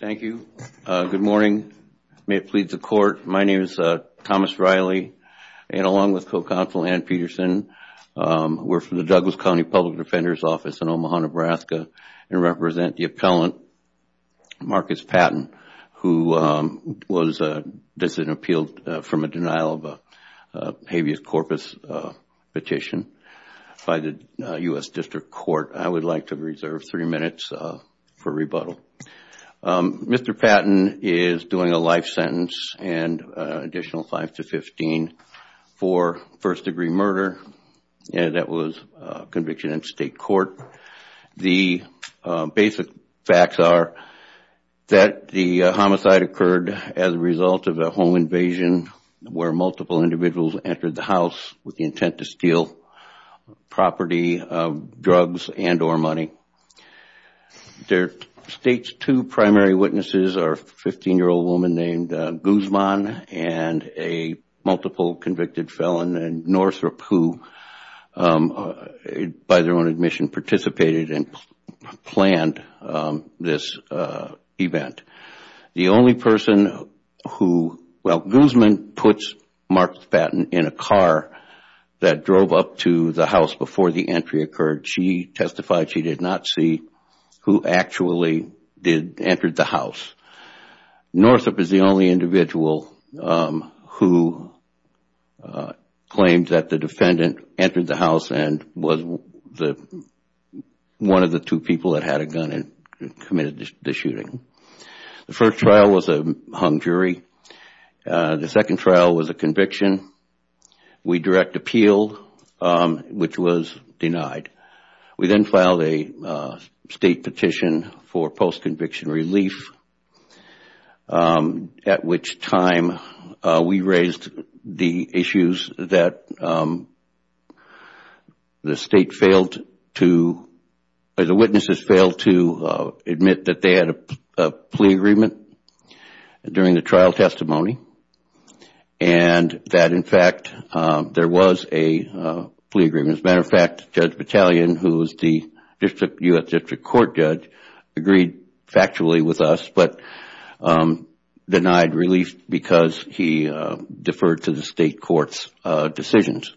Thank you. Good morning. May it please the court, my name is Thomas Riley and along with co-counsel Ann Peterson, we're from the Douglas County Public Defender's Office in Omaha, Nebraska, and represent the appellant Marqus Patton, who was disappealed from a denial of a habeas corpus petition by the U.S. District Court. I would like to reserve three minutes for rebuttal. Mr. Patton is doing a life sentence and an additional five to fifteen for first degree murder and that was conviction in state court. The basic facts are that the homicide occurred as a result of a home invasion where multiple individuals entered the house with the intent to steal property, drugs, and or money. The state's two primary witnesses are a 15-year-old woman named Guzman and a multiple convicted felon, Northrop, who by their own admission participated and planned this event. Guzman puts Marqus Patton in a car that drove up to the house before the entry occurred. She testified she did not see who actually entered the house. Northrop is the only individual who claimed that the incident entered the house and was one of the two people that had a gun and committed the shooting. The first trial was a hung jury. The second trial was a conviction. We direct appeal which was denied. We then filed a state petition for post-conviction relief at which time we raised the issues that the state failed to or the witnesses failed to admit that they had a plea agreement during the trial testimony and that in fact there was a plea agreement. As a matter of fact, Judge Battalion who is the U.S. District Court judge agreed factually with us but denied relief because he deferred to the state court's decisions.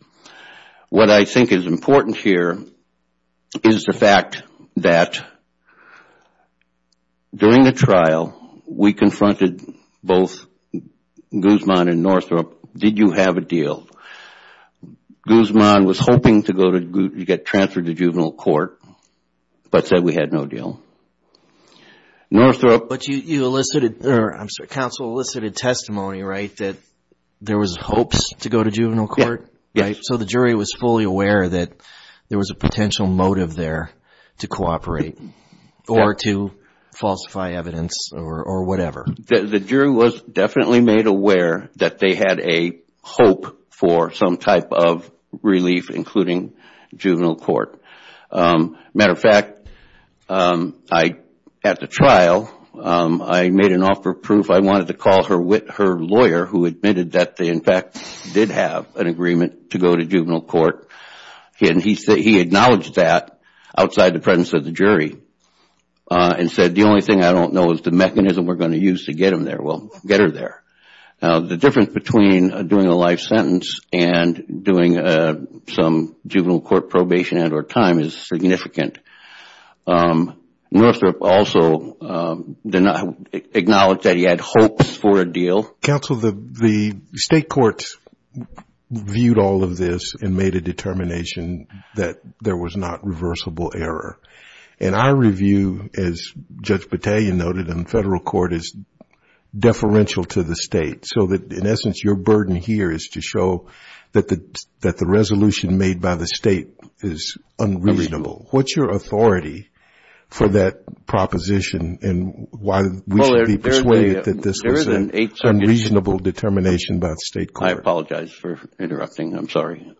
What I think is important here is the fact that during the trial we confronted both Guzman and Northrop. Did you have a deal? Guzman was hoping to get transferred to juvenile court but said we had no deal. Northrop... But you elicited, I'm sorry, counsel elicited testimony right that there was hopes to go to juvenile court? Yes. So the jury was fully aware that there was a potential motive there to cooperate or to falsify evidence or whatever? The jury was definitely made aware that they had a hope for some type of relief including juvenile court. As a matter of fact, at the trial, I made an offer of proof. I wanted to call her lawyer who admitted that they in fact did have an agreement to go to juvenile court. He acknowledged that outside the presence of the jury and said the only thing I don't know is the mechanism we are going to use to get her there. The difference between doing a life sentence and doing some juvenile court probation and or time is significant. Northrop also acknowledged that he had hopes for a deal. Counsel, the state courts viewed all of this and made a determination that there was not reversible error. And our review as Judge Battaglia noted in federal court is deferential to the state. So that in essence your burden here is to show that the resolution made by the state is unreasonable. What's your authority for that proposition and why we should be persuaded that this was an unreasonable determination by the state court? I apologize for interrupting. I'm sorry.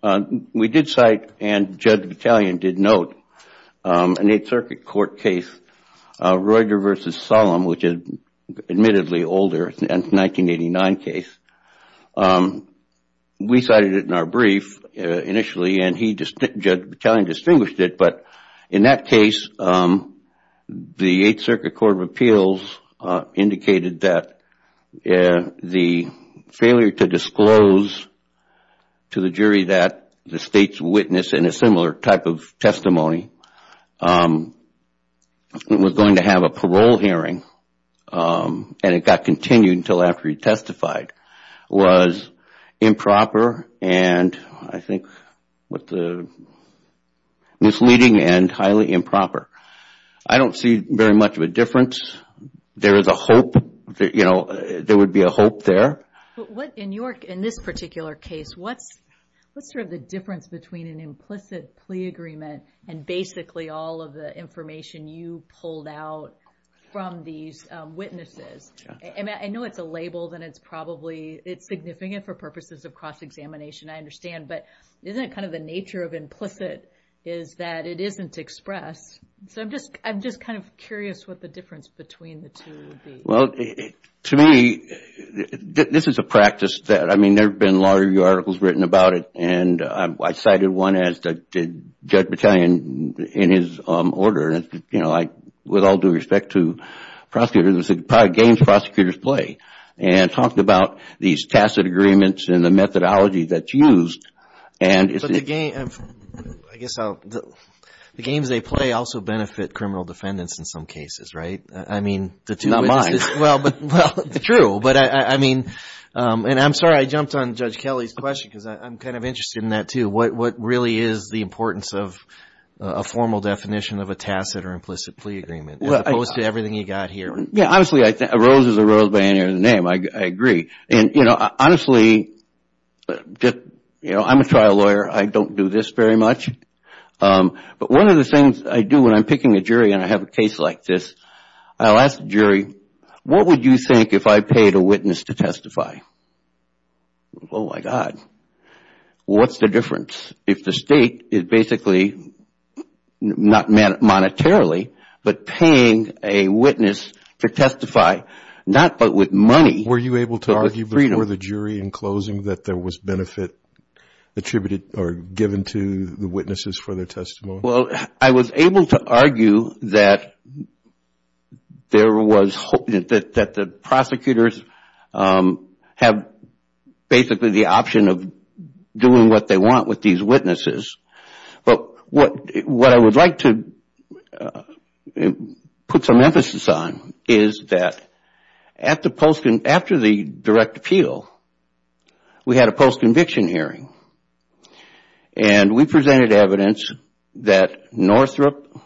We did cite and Judge Battaglia did note an Eighth Circuit Court case, Roediger v. Solem, which is admittedly older, a 1989 case. We cited it in our brief initially and Judge Battaglia distinguished it but in that case, the Eighth Circuit Court of Appeals indicated that the failure to disclose to the jury that the state's witness in a similar type of testimony was going to have a parole hearing and it got continued until after he testified, was improper and I think misleading and highly improper. I don't see very much of a difference. There is a hope, there would be a hope there. In this particular case, what's sort of the difference between an implicit plea agreement and basically all of the information you pulled out from these witnesses? I know it's a label and it's probably, it's significant for purposes of cross-examination, I understand, but isn't it kind of the nature of implicit is that it isn't expressed? So I'm just kind of curious what the difference between the two would be. Well, to me, this is a practice that, I mean, there have been a lot of articles written about it and I cited one as did Judge Battaglia in his order, you know, like with all due respect to prosecutors, it's a game prosecutors play and talked about these tacit agreements and the methodology that's used. But the game, I guess, the games they play also benefit criminal defendants in some cases, right? I mean, the two witnesses. Not mine. Well, true, but I mean, and I'm sorry I jumped on Judge Kelly's question because I'm kind of interested in that too. What really is the importance of a formal definition of a tacit or implicit plea agreement as opposed to everything you got here? Yeah, honestly, a rose is a rose by any other name. I agree. And, you know, honestly, you know, I'm a trial lawyer. I don't do this very much. But one of the things I do when I'm picking a jury and I have a case like this, I'll ask the jury, what would you think if I paid a witness to testify? Oh, my God. What's the difference if the state is basically not monetarily but paying a witness to testify, not but with money but with freedom? Were you able to argue before the jury in closing that there was benefit attributed or given to the witnesses for their testimony? Well, I was able to argue that there was hope that the prosecutors have basically the option of doing what they want with these witnesses. But what I would like to put some emphasis on is that after the direct appeal, we had a post-conviction hearing. And we presented evidence that Northrup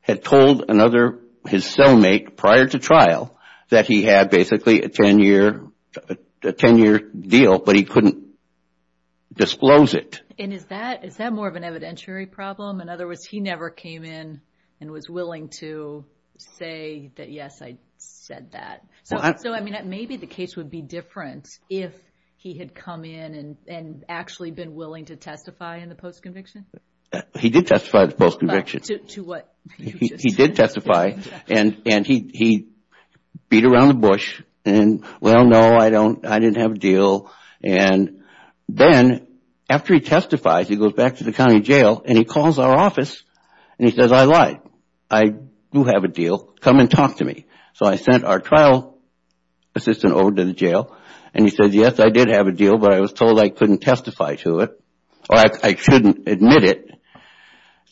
had told another, his cellmate, prior to trial that he had basically a 10-year deal, but he couldn't disclose it. And is that more of an evidentiary problem? In other words, he never came in and was willing to say that, yes, I said that. So, I mean, maybe the case would be different if he had come in and actually been willing to testify in the post-conviction? He did testify in the post-conviction. To what? He did testify and he beat around the bush and, well, no, I didn't have a deal. And then after he testifies, he goes back to the county jail and he calls our office and he says, I lied. I do have a deal. Come and talk to me. So, I sent our trial assistant over to the jail and he says, yes, I did have a deal, but I was told I couldn't testify to it, or I shouldn't admit it.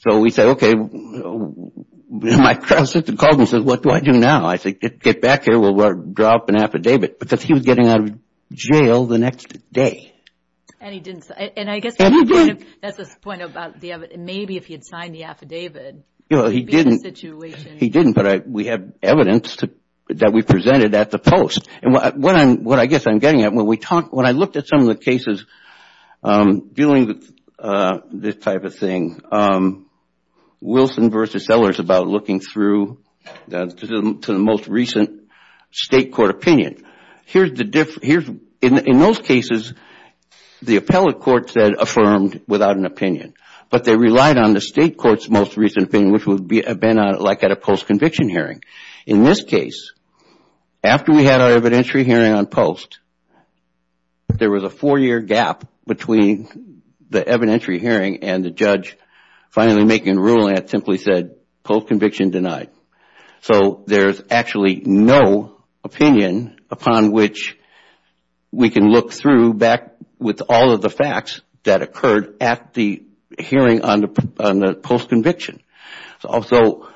So, we said, okay, my trial assistant called and said, what do I do now? I said, get back here, we'll drop an affidavit, because he was getting out of jail the next day. And he didn't, and I guess that's his point about maybe if he had signed the affidavit. You know, he didn't, but we have evidence that we presented at the post. And what I guess I'm getting at, when I looked at some of the cases dealing with this type of thing, Wilson v. Sellers about looking through to the most recent state court opinion. In those cases, the appellate court said affirmed without an opinion, but they relied on the state court's most recent opinion, which would have been like at a post-conviction hearing. In this case, after we had our evidentiary hearing on post, there was a four-year gap between the evidentiary hearing and the judge finally making a ruling that simply said, post-conviction denied. So, there's actually no opinion upon which we can look through back with all of the facts that occurred at the hearing on the post-conviction. Also,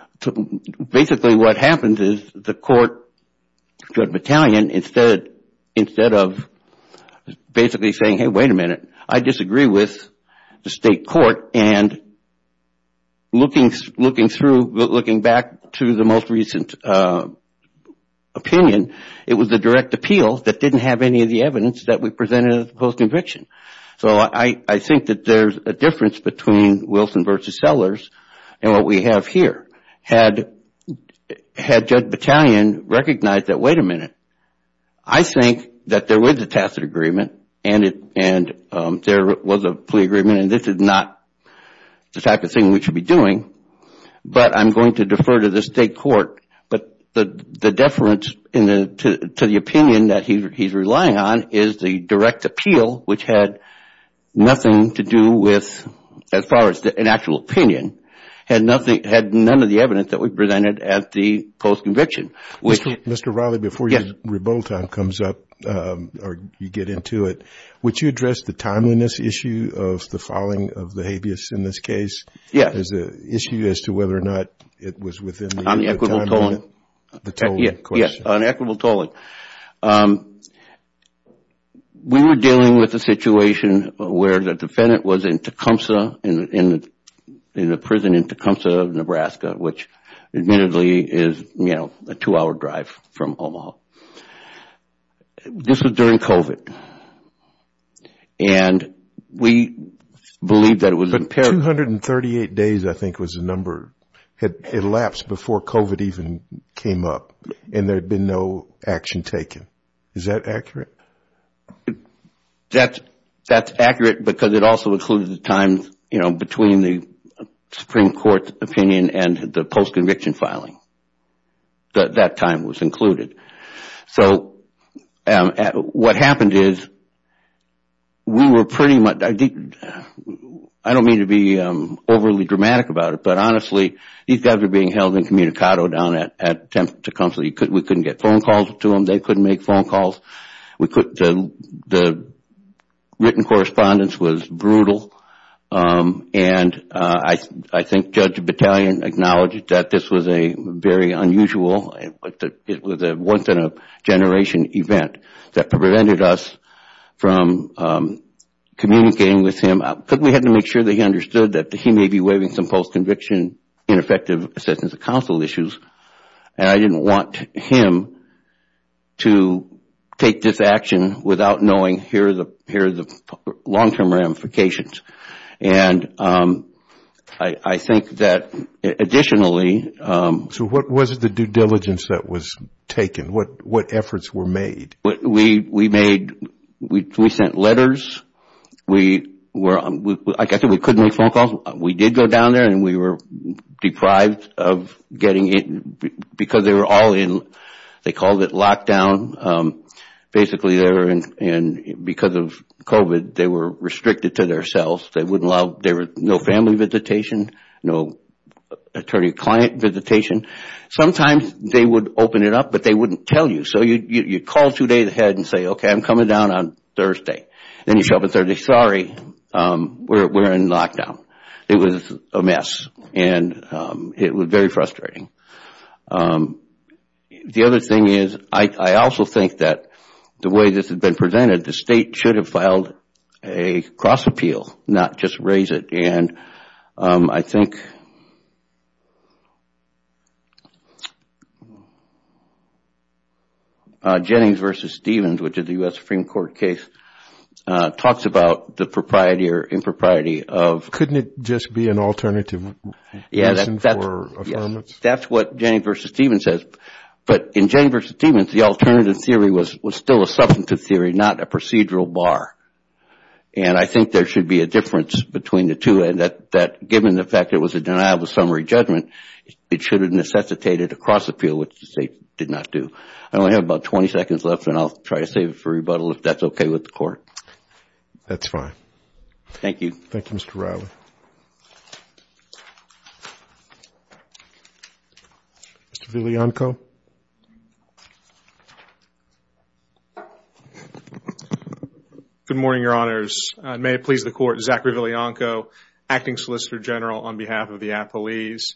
basically what happens is the court, the judge battalion, instead of basically saying, hey, wait a minute, I disagree with the state court and looking through, looking back to the most recent opinion, it was the direct appeal that didn't have any of the evidence that we presented at the post-conviction. So, I think that there's a difference between Wilson v. Sellers and what we have here. Had judge battalion recognized that, wait a minute, I think that there was a tacit agreement and there was a plea agreement and this is not the type of thing we should be doing, but I'm going to defer to the state court. But the difference to the opinion that he's relying on is the direct appeal, which had nothing to do with, as far as an actual opinion, had none of the evidence that we presented at the post-conviction. Mr. Riley, before your rebuttal time comes up or you get into it, would you address the timeliness issue of the filing of the habeas in this case? Yes. As an issue as to whether or not it was within the time limit? On the equitable tolling. We were dealing with a situation where the defendant was in Tecumseh, in the prison in Tecumseh, Nebraska, which admittedly is, you know, a two-hour drive from Omaha. This was during COVID and we believed that it was imperative. But 238 days, I think, was the number, had elapsed before COVID even came up and there was no action taken. Is that accurate? That's accurate because it also included the time, you know, between the Supreme Court's opinion and the post-conviction filing. That time was included. So what happened is we were pretty much, I don't mean to be overly dramatic about it, but honestly, these guys were being held incommunicado down at Tecumseh. We couldn't get phone calls to them. They couldn't make phone calls. The written correspondence was brutal and I think Judge Battalion acknowledged that this was a very unusual, it was a once-in-a-generation event that prevented us from communicating with him. Because we had to make sure that he understood that he may be waiving some post-conviction ineffective assistance of counsel issues. And I didn't want him to take this action without knowing here are the long-term ramifications. And I think that additionally... So what was the due diligence that was taken? What efforts were made? We made, we sent letters. We were, like I said, we couldn't make phone calls. We did go down there and we were deprived of getting it because they were all in, they called it lockdown. Basically, they were in, because of COVID, they were restricted to their cells. They wouldn't allow, there was no family visitation, no attorney-client visitation. Sometimes they would open it up, but they wouldn't tell you. So you'd call two days ahead and say, okay, I'm coming down on Thursday. Then you show up on Thursday, sorry, we're in lockdown. It was a mess and it was very frustrating. The other thing is, I also think that the way this has been presented, the state should have filed a cross-appeal, not just raise it. And I think Jennings v. Stevens, which is a U.S. Supreme Court case, talks about the propriety or impropriety of... Couldn't it just be an alternative? Yeah, that's what Jennings v. Stevens says. But in Jennings v. Stevens, the alternative theory was still a substantive theory, not a procedural bar. And I think there should be a difference between the two, that given the fact it was a denial of a summary judgment, it should have necessitated a cross-appeal, which the state did not do. I only have about 20 seconds left, and I'll try to save it for rebuttal if that's okay with the court. That's fine. Thank you. Thank you, Mr. Riley. Mr. Villianco? Good morning, Your Honors. May it please the Court, Zachary Villianco, Acting Solicitor General on behalf of the Appellees.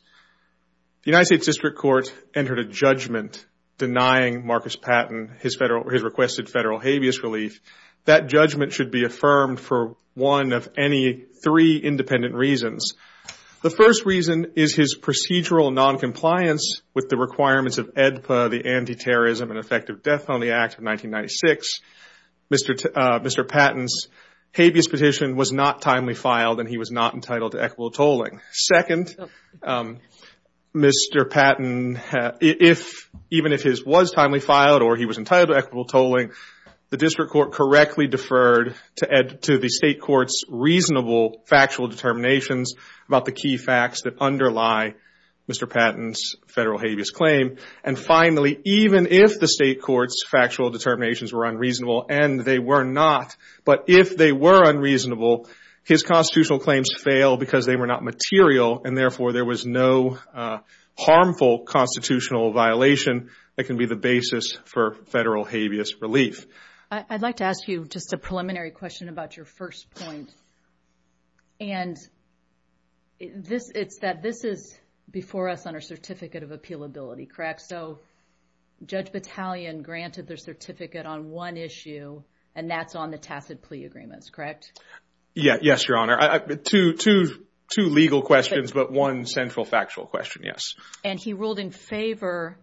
The United States District Court entered a judgment denying Marcus Patton his requested federal habeas relief. That judgment should be affirmed for one of any three independent reasons. The first reason is his procedural noncompliance with the requirements of any federal statute. The Anti-Terrorism and Effective Death Penalty Act of 1996. Mr. Patton's habeas petition was not timely filed, and he was not entitled to equitable tolling. Second, Mr. Patton, even if his was timely filed or he was entitled to equitable tolling, the District Court correctly deferred to the State Court's reasonable factual determinations about the key facts that underlie Mr. Patton's federal habeas claim. And finally, even if the State Court's factual determinations were unreasonable, and they were not, but if they were unreasonable, his constitutional claims fail because they were not material, and therefore there was no harmful constitutional violation that can be the basis for federal habeas relief. I'd like to ask you just a preliminary question about your first point. And this, it's that this is before us on our Certificate of Appealability, correct? So, Judge Battalion granted their certificate on one issue, and that's on the tacit plea agreements, correct? Yeah, yes, Your Honor. Two legal questions, but one central factual question, yes. And he ruled in favor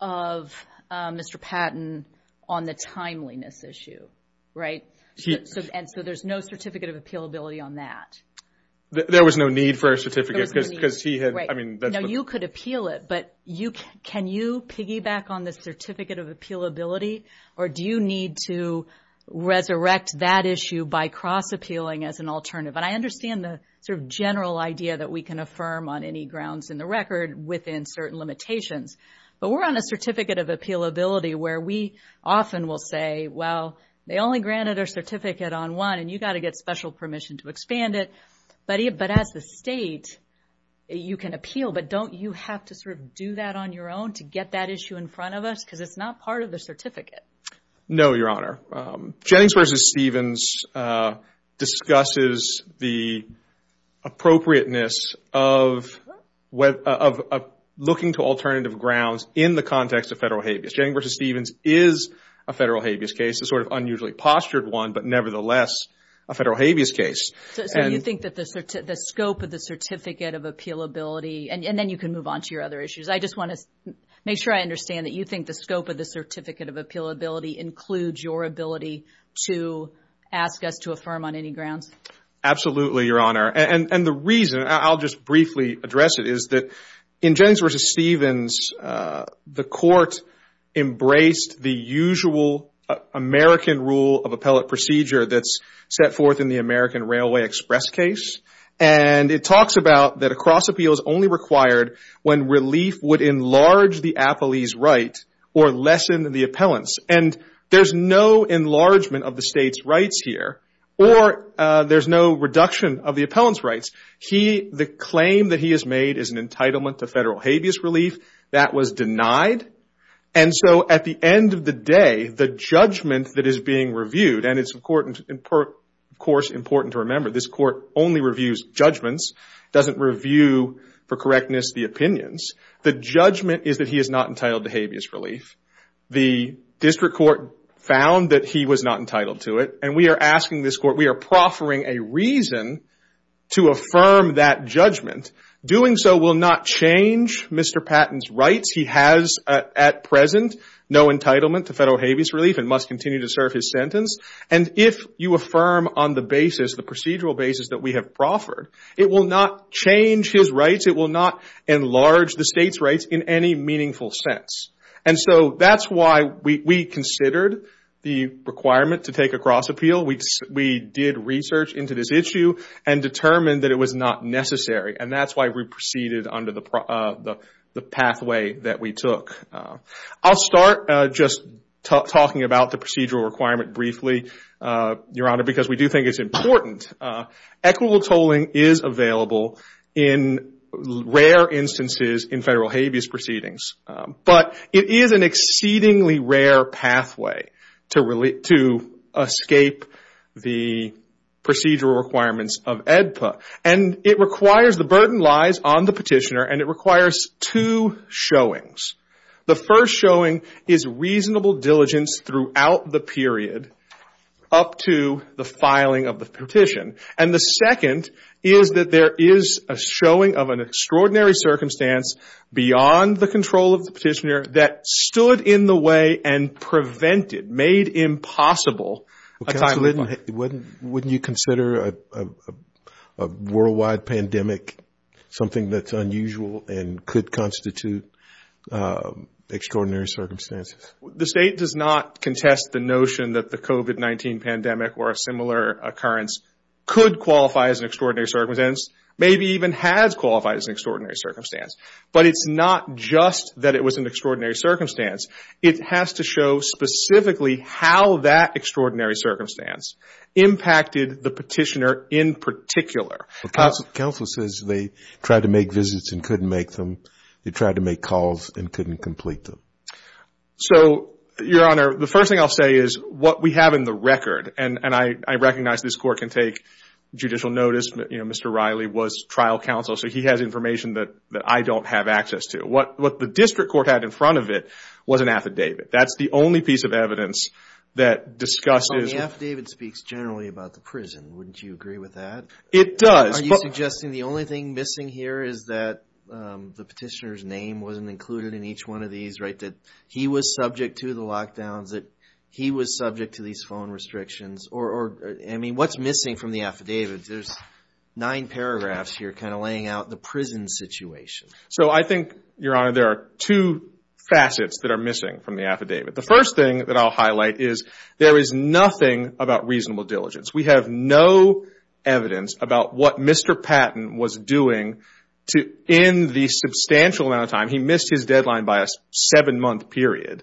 of Mr. Patton on the timeliness issue, right? And so there's no Certificate of Appealability on that? There was no need for a certificate, because he had, I mean... Now, you could appeal it, but can you piggyback on the Certificate of Appealability, or do you need to resurrect that issue by cross-appealing as an alternative? And I understand the sort of general idea that we can affirm on any grounds in the record within certain limitations, but we're on a Certificate of Appealability where we often will say, well, they only granted our certificate on one, and you got to get special permission to expand it. But as the state, you can appeal, but don't you have to sort of do that on your own to get that issue in front of us? Because it's not part of the certificate. No, Your Honor. Jennings v. Stevens discusses the appropriateness of looking to alternative grounds in the context of federal habeas. Jennings v. Stevens is a federal habeas case, a sort of unusually postured one, but nevertheless a federal habeas case. So you think that the scope of the Certificate of Appealability, and then you can move on to your other issues. I just want to make sure I understand that you think the scope of the Certificate of Appealability includes your ability to ask us to affirm on any grounds? Absolutely, Your Honor. And the reason, I'll just briefly address it, is that Jennings v. Stevens, the court embraced the usual American rule of appellate procedure that's set forth in the American Railway Express case. And it talks about that a cross appeal is only required when relief would enlarge the appellee's right or lessen the appellant's. And there's no enlargement of the state's rights here, or there's no reduction of the appellant's rights. The claim that he has made is an entitlement to federal habeas relief. That was denied. And so at the end of the day, the judgment that is being reviewed, and it's of course important to remember this court only reviews judgments, doesn't review, for correctness, the opinions. The judgment is that he is not entitled to habeas relief. The district court found that he was not entitled to it. And we are asking this court, we are proffering a reason to affirm that judgment. Doing so will not change Mr. Patton's rights. He has at present no entitlement to federal habeas relief and must continue to serve his sentence. And if you affirm on the basis, the procedural basis that we have proffered, it will not change his rights. It will not enlarge the state's rights in any meaningful sense. And so that's why we considered the requirement to take a cross appeal. We did research into this issue and determined that it was not necessary. And that's why we proceeded under the pathway that we took. I'll start just talking about the procedural requirement briefly, Your Honor, because we do think it's important. Equitable tolling is available in rare instances in federal habeas proceedings. But it is an exceedingly rare pathway to escape the procedural requirements of AEDPA. And it requires, the burden lies on the petitioner, and it requires two showings. The first showing is reasonable diligence throughout the period up to the filing of the petition. And the second is that there is a showing of an extraordinary circumstance beyond the control of the petitioner that stood in the way and prevented, made impossible, a timely fine. Wouldn't you consider a worldwide pandemic something that's unusual and could constitute extraordinary circumstances? The state does not contest the notion that the COVID-19 pandemic or a similar occurrence could qualify as an extraordinary circumstance, maybe even has qualified as an extraordinary circumstance. But it's not just that it was an extraordinary circumstance. It has to show specifically how that extraordinary circumstance impacted the petitioner in particular. Counsel says they tried to make visits and couldn't make them. They tried to make calls and couldn't complete them. So, Your Honor, the first thing I'll say is what we have in the record, and I recognize this court can take judicial notice. Mr. Riley was trial counsel, so he has information that I don't have access to. What the district court had in front of it was an affidavit. That's the only piece of evidence that discusses... Well, the affidavit speaks generally about the prison. Wouldn't you agree with that? It does. Are you suggesting the only thing missing here is that the petitioner's name wasn't included in each one of these, that he was subject to the lockdowns, that he was subject to these phone restrictions? I mean, what's missing from the affidavit? There's nine paragraphs here kind of laying out the prison situation. So, I think, Your Honor, there are two facets that are missing from the affidavit. The first thing that I'll highlight is there is nothing about reasonable diligence. We have no evidence about what Mr. Patton was doing to end the substantial amount of time. He missed his deadline by a seven-month period.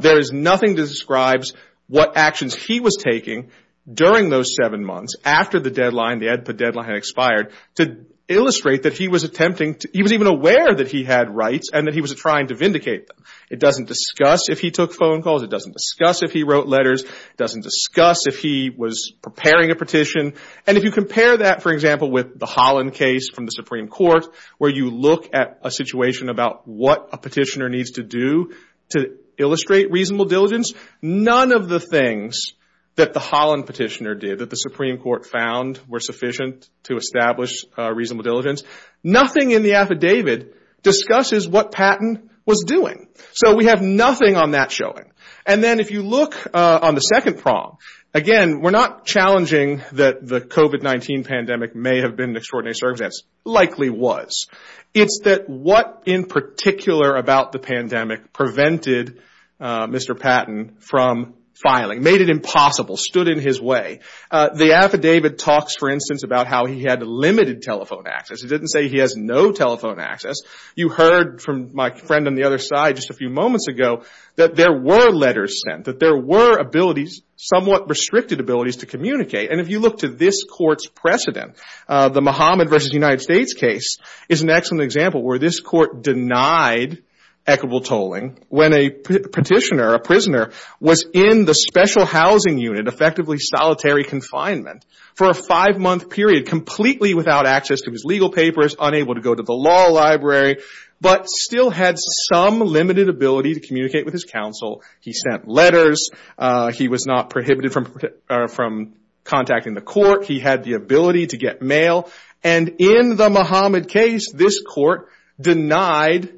There is nothing that describes what actions he was taking during those seven months after the deadline, the EDPA deadline had expired, to illustrate that he was attempting to... He was even aware that he had rights and that he was trying to vindicate them. It doesn't discuss if he took phone calls. It doesn't discuss if he wrote letters. It doesn't discuss if he was preparing a petition. And if you compare that, for example, with the Holland case from the Supreme Court, where you look at a situation about what a petitioner needs to do to illustrate reasonable diligence, none of the things that the Holland petitioner did, that the Supreme Court found were sufficient to establish reasonable diligence, nothing in the affidavit discusses what Patton was doing. So, we have nothing on that showing. And then, if you look on the second prong, again, we're not challenging that the COVID-19 pandemic may have been an extraordinary circumstance. Likely was. It's that what in particular about the pandemic prevented Mr. Patton from filing, made it impossible, stood in his way. The affidavit talks, for instance, about how he had limited telephone access. It didn't say he has no telephone access. You heard from my friend on the other side just a few moments ago that there were letters sent, that there were abilities somewhat restricted abilities to communicate. And if you look to this court's precedent, the Mohammed versus United States case is an excellent example where this court denied equitable tolling when a petitioner, a prisoner, was in the special housing unit, effectively solitary confinement, for a five-month period, completely without access to his legal papers, unable to go to the law library, but still had some limited ability to communicate with his He sent letters. He was not prohibited from contacting the court. He had the ability to get mail. And in the Mohammed case, this court denied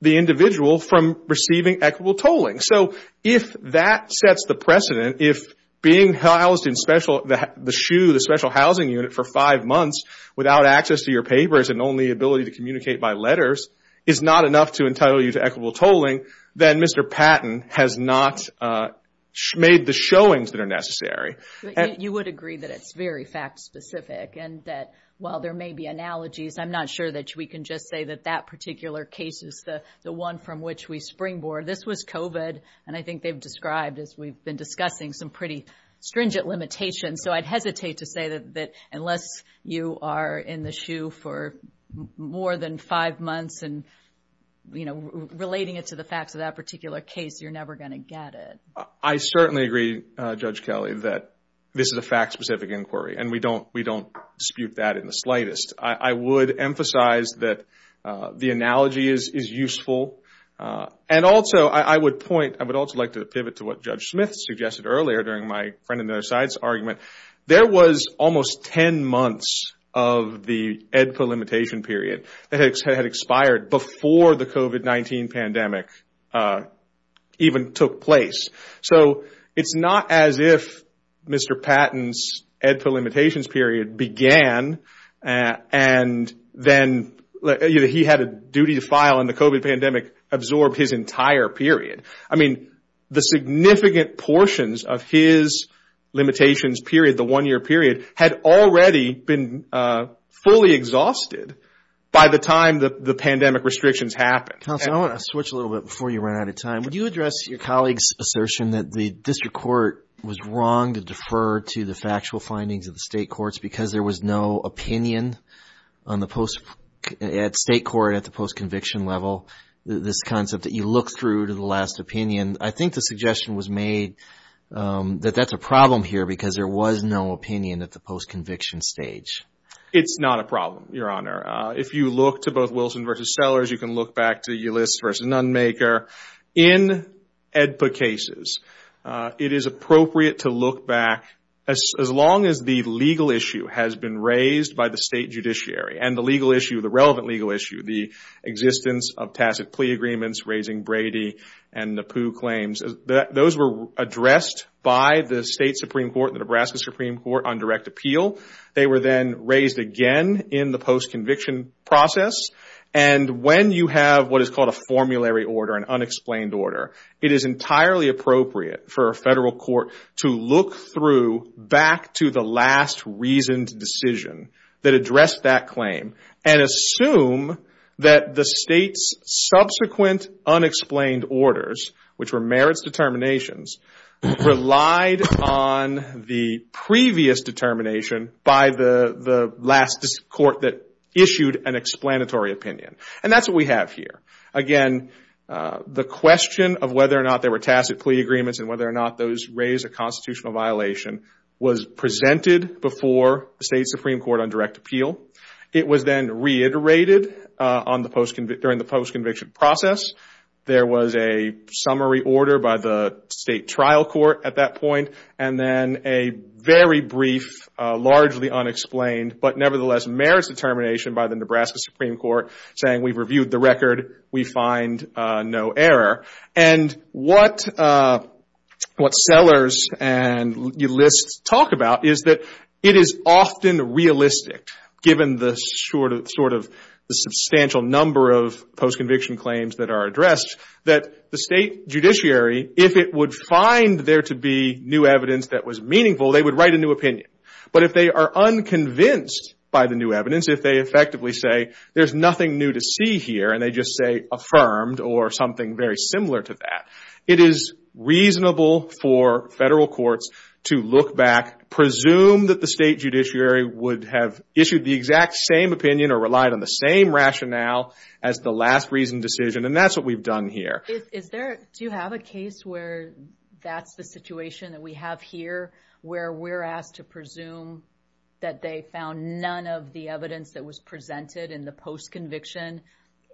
the individual from receiving equitable tolling. So if that sets the precedent, if being housed in the SHU, the special housing unit, for five months without access to your papers and only ability to communicate by letters is not enough to entitle you to equitable tolling, then Mr. Patton has not made the showings that are necessary. You would agree that it's very fact-specific and that while there may be analogies, I'm not sure that we can just say that that particular case is the one from which we springboard. This was COVID. And I think they've described, as we've been discussing, some pretty stringent limitations. So I'd hesitate to say that unless you are in the SHU for more than five months and, you know, relating it to the facts of that particular case, you're never going to get it. I certainly agree, Judge Kelley, that this is a fact-specific inquiry. And we don't dispute that in the slightest. I would emphasize that the analogy is useful. And also, I would point, I would also like to pivot to what Judge Smith suggested earlier during my friend on the other side's argument. There was almost 10 months of the EDPA limitation period that had expired before the COVID-19 pandemic even took place. So it's not as if Mr. Patton's EDPA limitations period began and then he had a duty to file and the COVID pandemic absorbed his entire period. I mean, the significant portions of his limitations period, the one-year period, had already been fully exhausted by the time the pandemic restrictions happened. I want to switch a little bit before you run out of time. Would you address your colleague's assertion that the district court was wrong to defer to the factual findings of the state courts because there was no opinion on the post, at state court, at the post-conviction level this concept that you look through to the last opinion? I think the suggestion was made that that's a problem here because there was no opinion at the post-conviction stage. It's not a problem, Your Honor. If you look to both Wilson v. Sellers, you can look back to Ulysses v. Nunmaker. In EDPA cases, it is appropriate to look back as long as the legal issue has been raised by the state judiciary and the legal issue, the relevant legal issue, the existence of tacit plea agreements raising Brady and Napoo claims. Those were addressed by the state Supreme Court, the Nebraska Supreme Court, on direct appeal. They were then raised again in the post-conviction process. When you have what is called a formulary order, an unexplained order, it is entirely appropriate for a federal court to look through back to the last reasoned decision that addressed that claim and assume that the state's subsequent unexplained orders, which were merits determinations, relied on the previous determination by the last court that issued an explanatory opinion. That's what we have here. Again, the question of whether or not there were tacit plea agreements and whether or not those raised a constitutional violation was presented before the state Supreme Court on direct appeal. It was then reiterated during the post-conviction process. There was a summary order by the state trial court at that point and then a very brief, largely unexplained, but nevertheless merits determination by the Nebraska Supreme Court saying we've reviewed the record. We find no error. What Sellers and Ulysts talk about is that it is often realistic, given the substantial number of post-conviction claims that are addressed, that the state judiciary, if it would find there to be new evidence that was meaningful, they would write a new opinion. If they are unconvinced by the new evidence, if they effectively say there's nothing new to see here and they just say affirmed or something very similar to that, it is reasonable for federal courts to look back, presume that the state judiciary would have issued the exact same opinion or relied on the same rationale as the last reason decision. That's what we've done here. Do you have a case where that's the situation that we have here, where we're asked to presume that they found none of the evidence that was presented in the post-conviction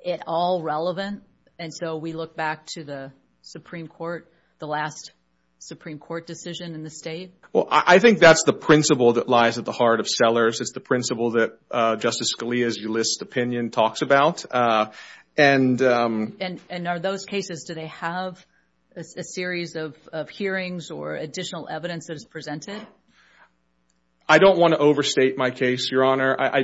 at all relevant? And so we look back to the Supreme Court, the last Supreme Court decision in the state? Well, I think that's the principle that lies at the heart of Sellers. It's the principle that Justice Scalia's Ulysts opinion talks about. And are those cases, do they have a series of hearings or additional evidence that is presented? I don't want to overstate my case, Your Honor. I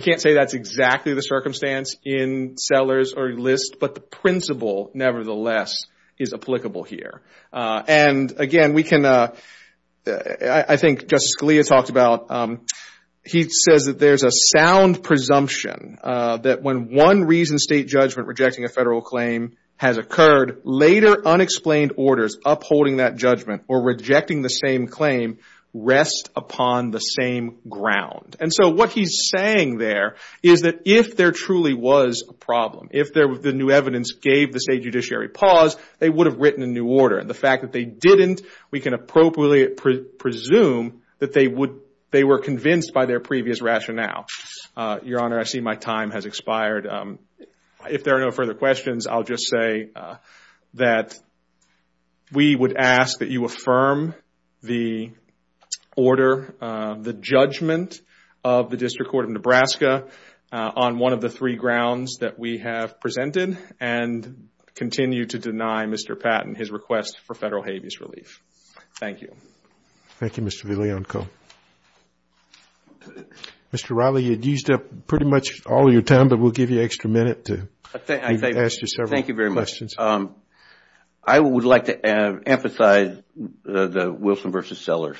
can't say that's exactly the circumstance in Sellers or Ulysts, but the principle nevertheless is applicable here. And again, I think Justice Scalia talked about, he says that there's a sound presumption that when one reason state judgment rejecting a federal claim has occurred, later unexplained orders upholding that judgment or rejecting the same claim rest upon the same ground. And so what he's saying there is that if there truly was a problem, if the new evidence gave the state judiciary pause, they would have written a new order. And the fact that they didn't, we can appropriately presume that they were convinced by their previous rationale. Your Honor, I see my time has expired. If there are no further questions, I'll just say that we would ask that you affirm the order, the judgment of the District Court of Nebraska on one of the three grounds that we have presented and continue to deny Mr. Patton his request for federal habeas relief. Thank you. Thank you, Mr. Villionco. Mr. Riley, you had used up pretty much all your time, but we'll give you an extra minute to ask you several questions. Thank you very much. I would like to emphasize the Wilson v. Sellers.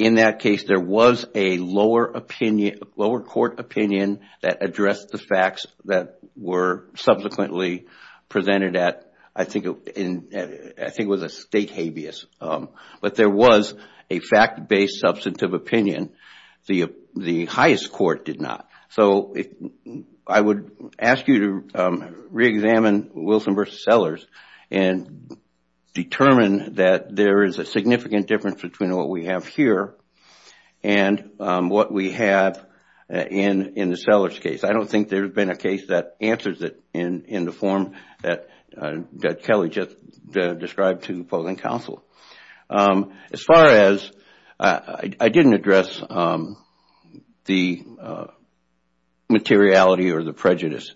In that case, there was a lower opinion, lower court opinion that addressed the facts that were subsequently presented at, I think it was a state habeas. But there was a fact-based substantive opinion. The highest court did not. So I would ask you to re-examine Wilson v. Sellers and determine that there is a significant difference between what we have here and what we have in the Sellers case. I don't think there's been a case that answers it in the form that Kelly just described to the opposing counsel. As far as, I didn't address the materiality or the prejudice.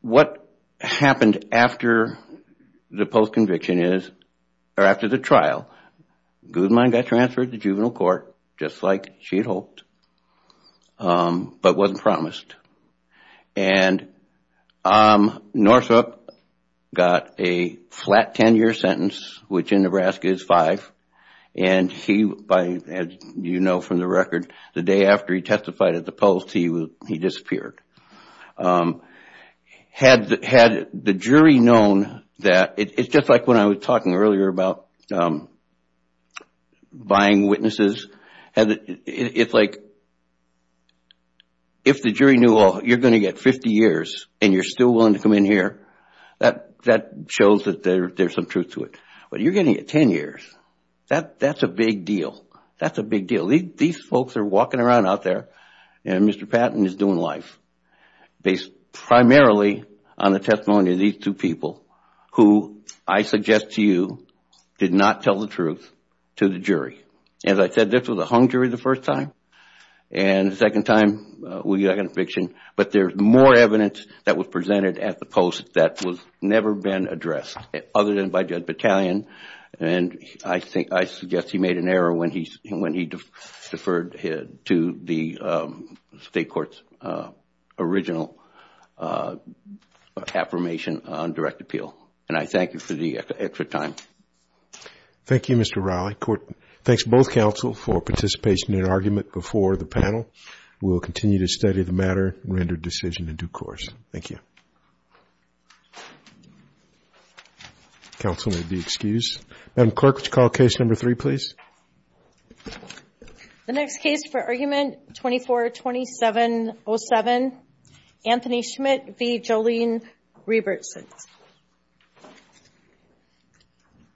What happened after the post conviction is, or after the trial, Guzman got transferred to juvenile court, just like she hoped, but wasn't promised. Northup got a flat 10-year sentence, which in Nebraska is five, and he, as you know from the record, the day after he testified at the post, he disappeared. Had the jury known that, it's just like when I was talking earlier about buying witnesses, it's like if the jury knew you're going to get 50 years and you're still willing to come in here, that shows that there's some truth to it. But you're getting a 10 years, that's a big deal. That's a big deal. These folks are walking around out there, and Mr. Patton is doing life, based primarily on the testimony of these two people, who, I suggest to you, did not tell the truth to the jury. As I said, this was a hung jury the first time, and the second time we got a conviction, but there's more evidence that was presented at the post that has never been addressed, other than by Judge Battalion, and I suggest he made an error when he deferred to the state court's original affirmation on direct appeal, and I thank you for the extra time. Thank you, Mr. Riley. Thanks to both counsel for participation in argument before the panel. We'll continue to study the matter, render decision in due course. Thank you. Counsel may be excused. Madam Clerk, would you call case number three, please? The next case for argument 24-2707, Anthony Schmidt v. Jolene Rebertson.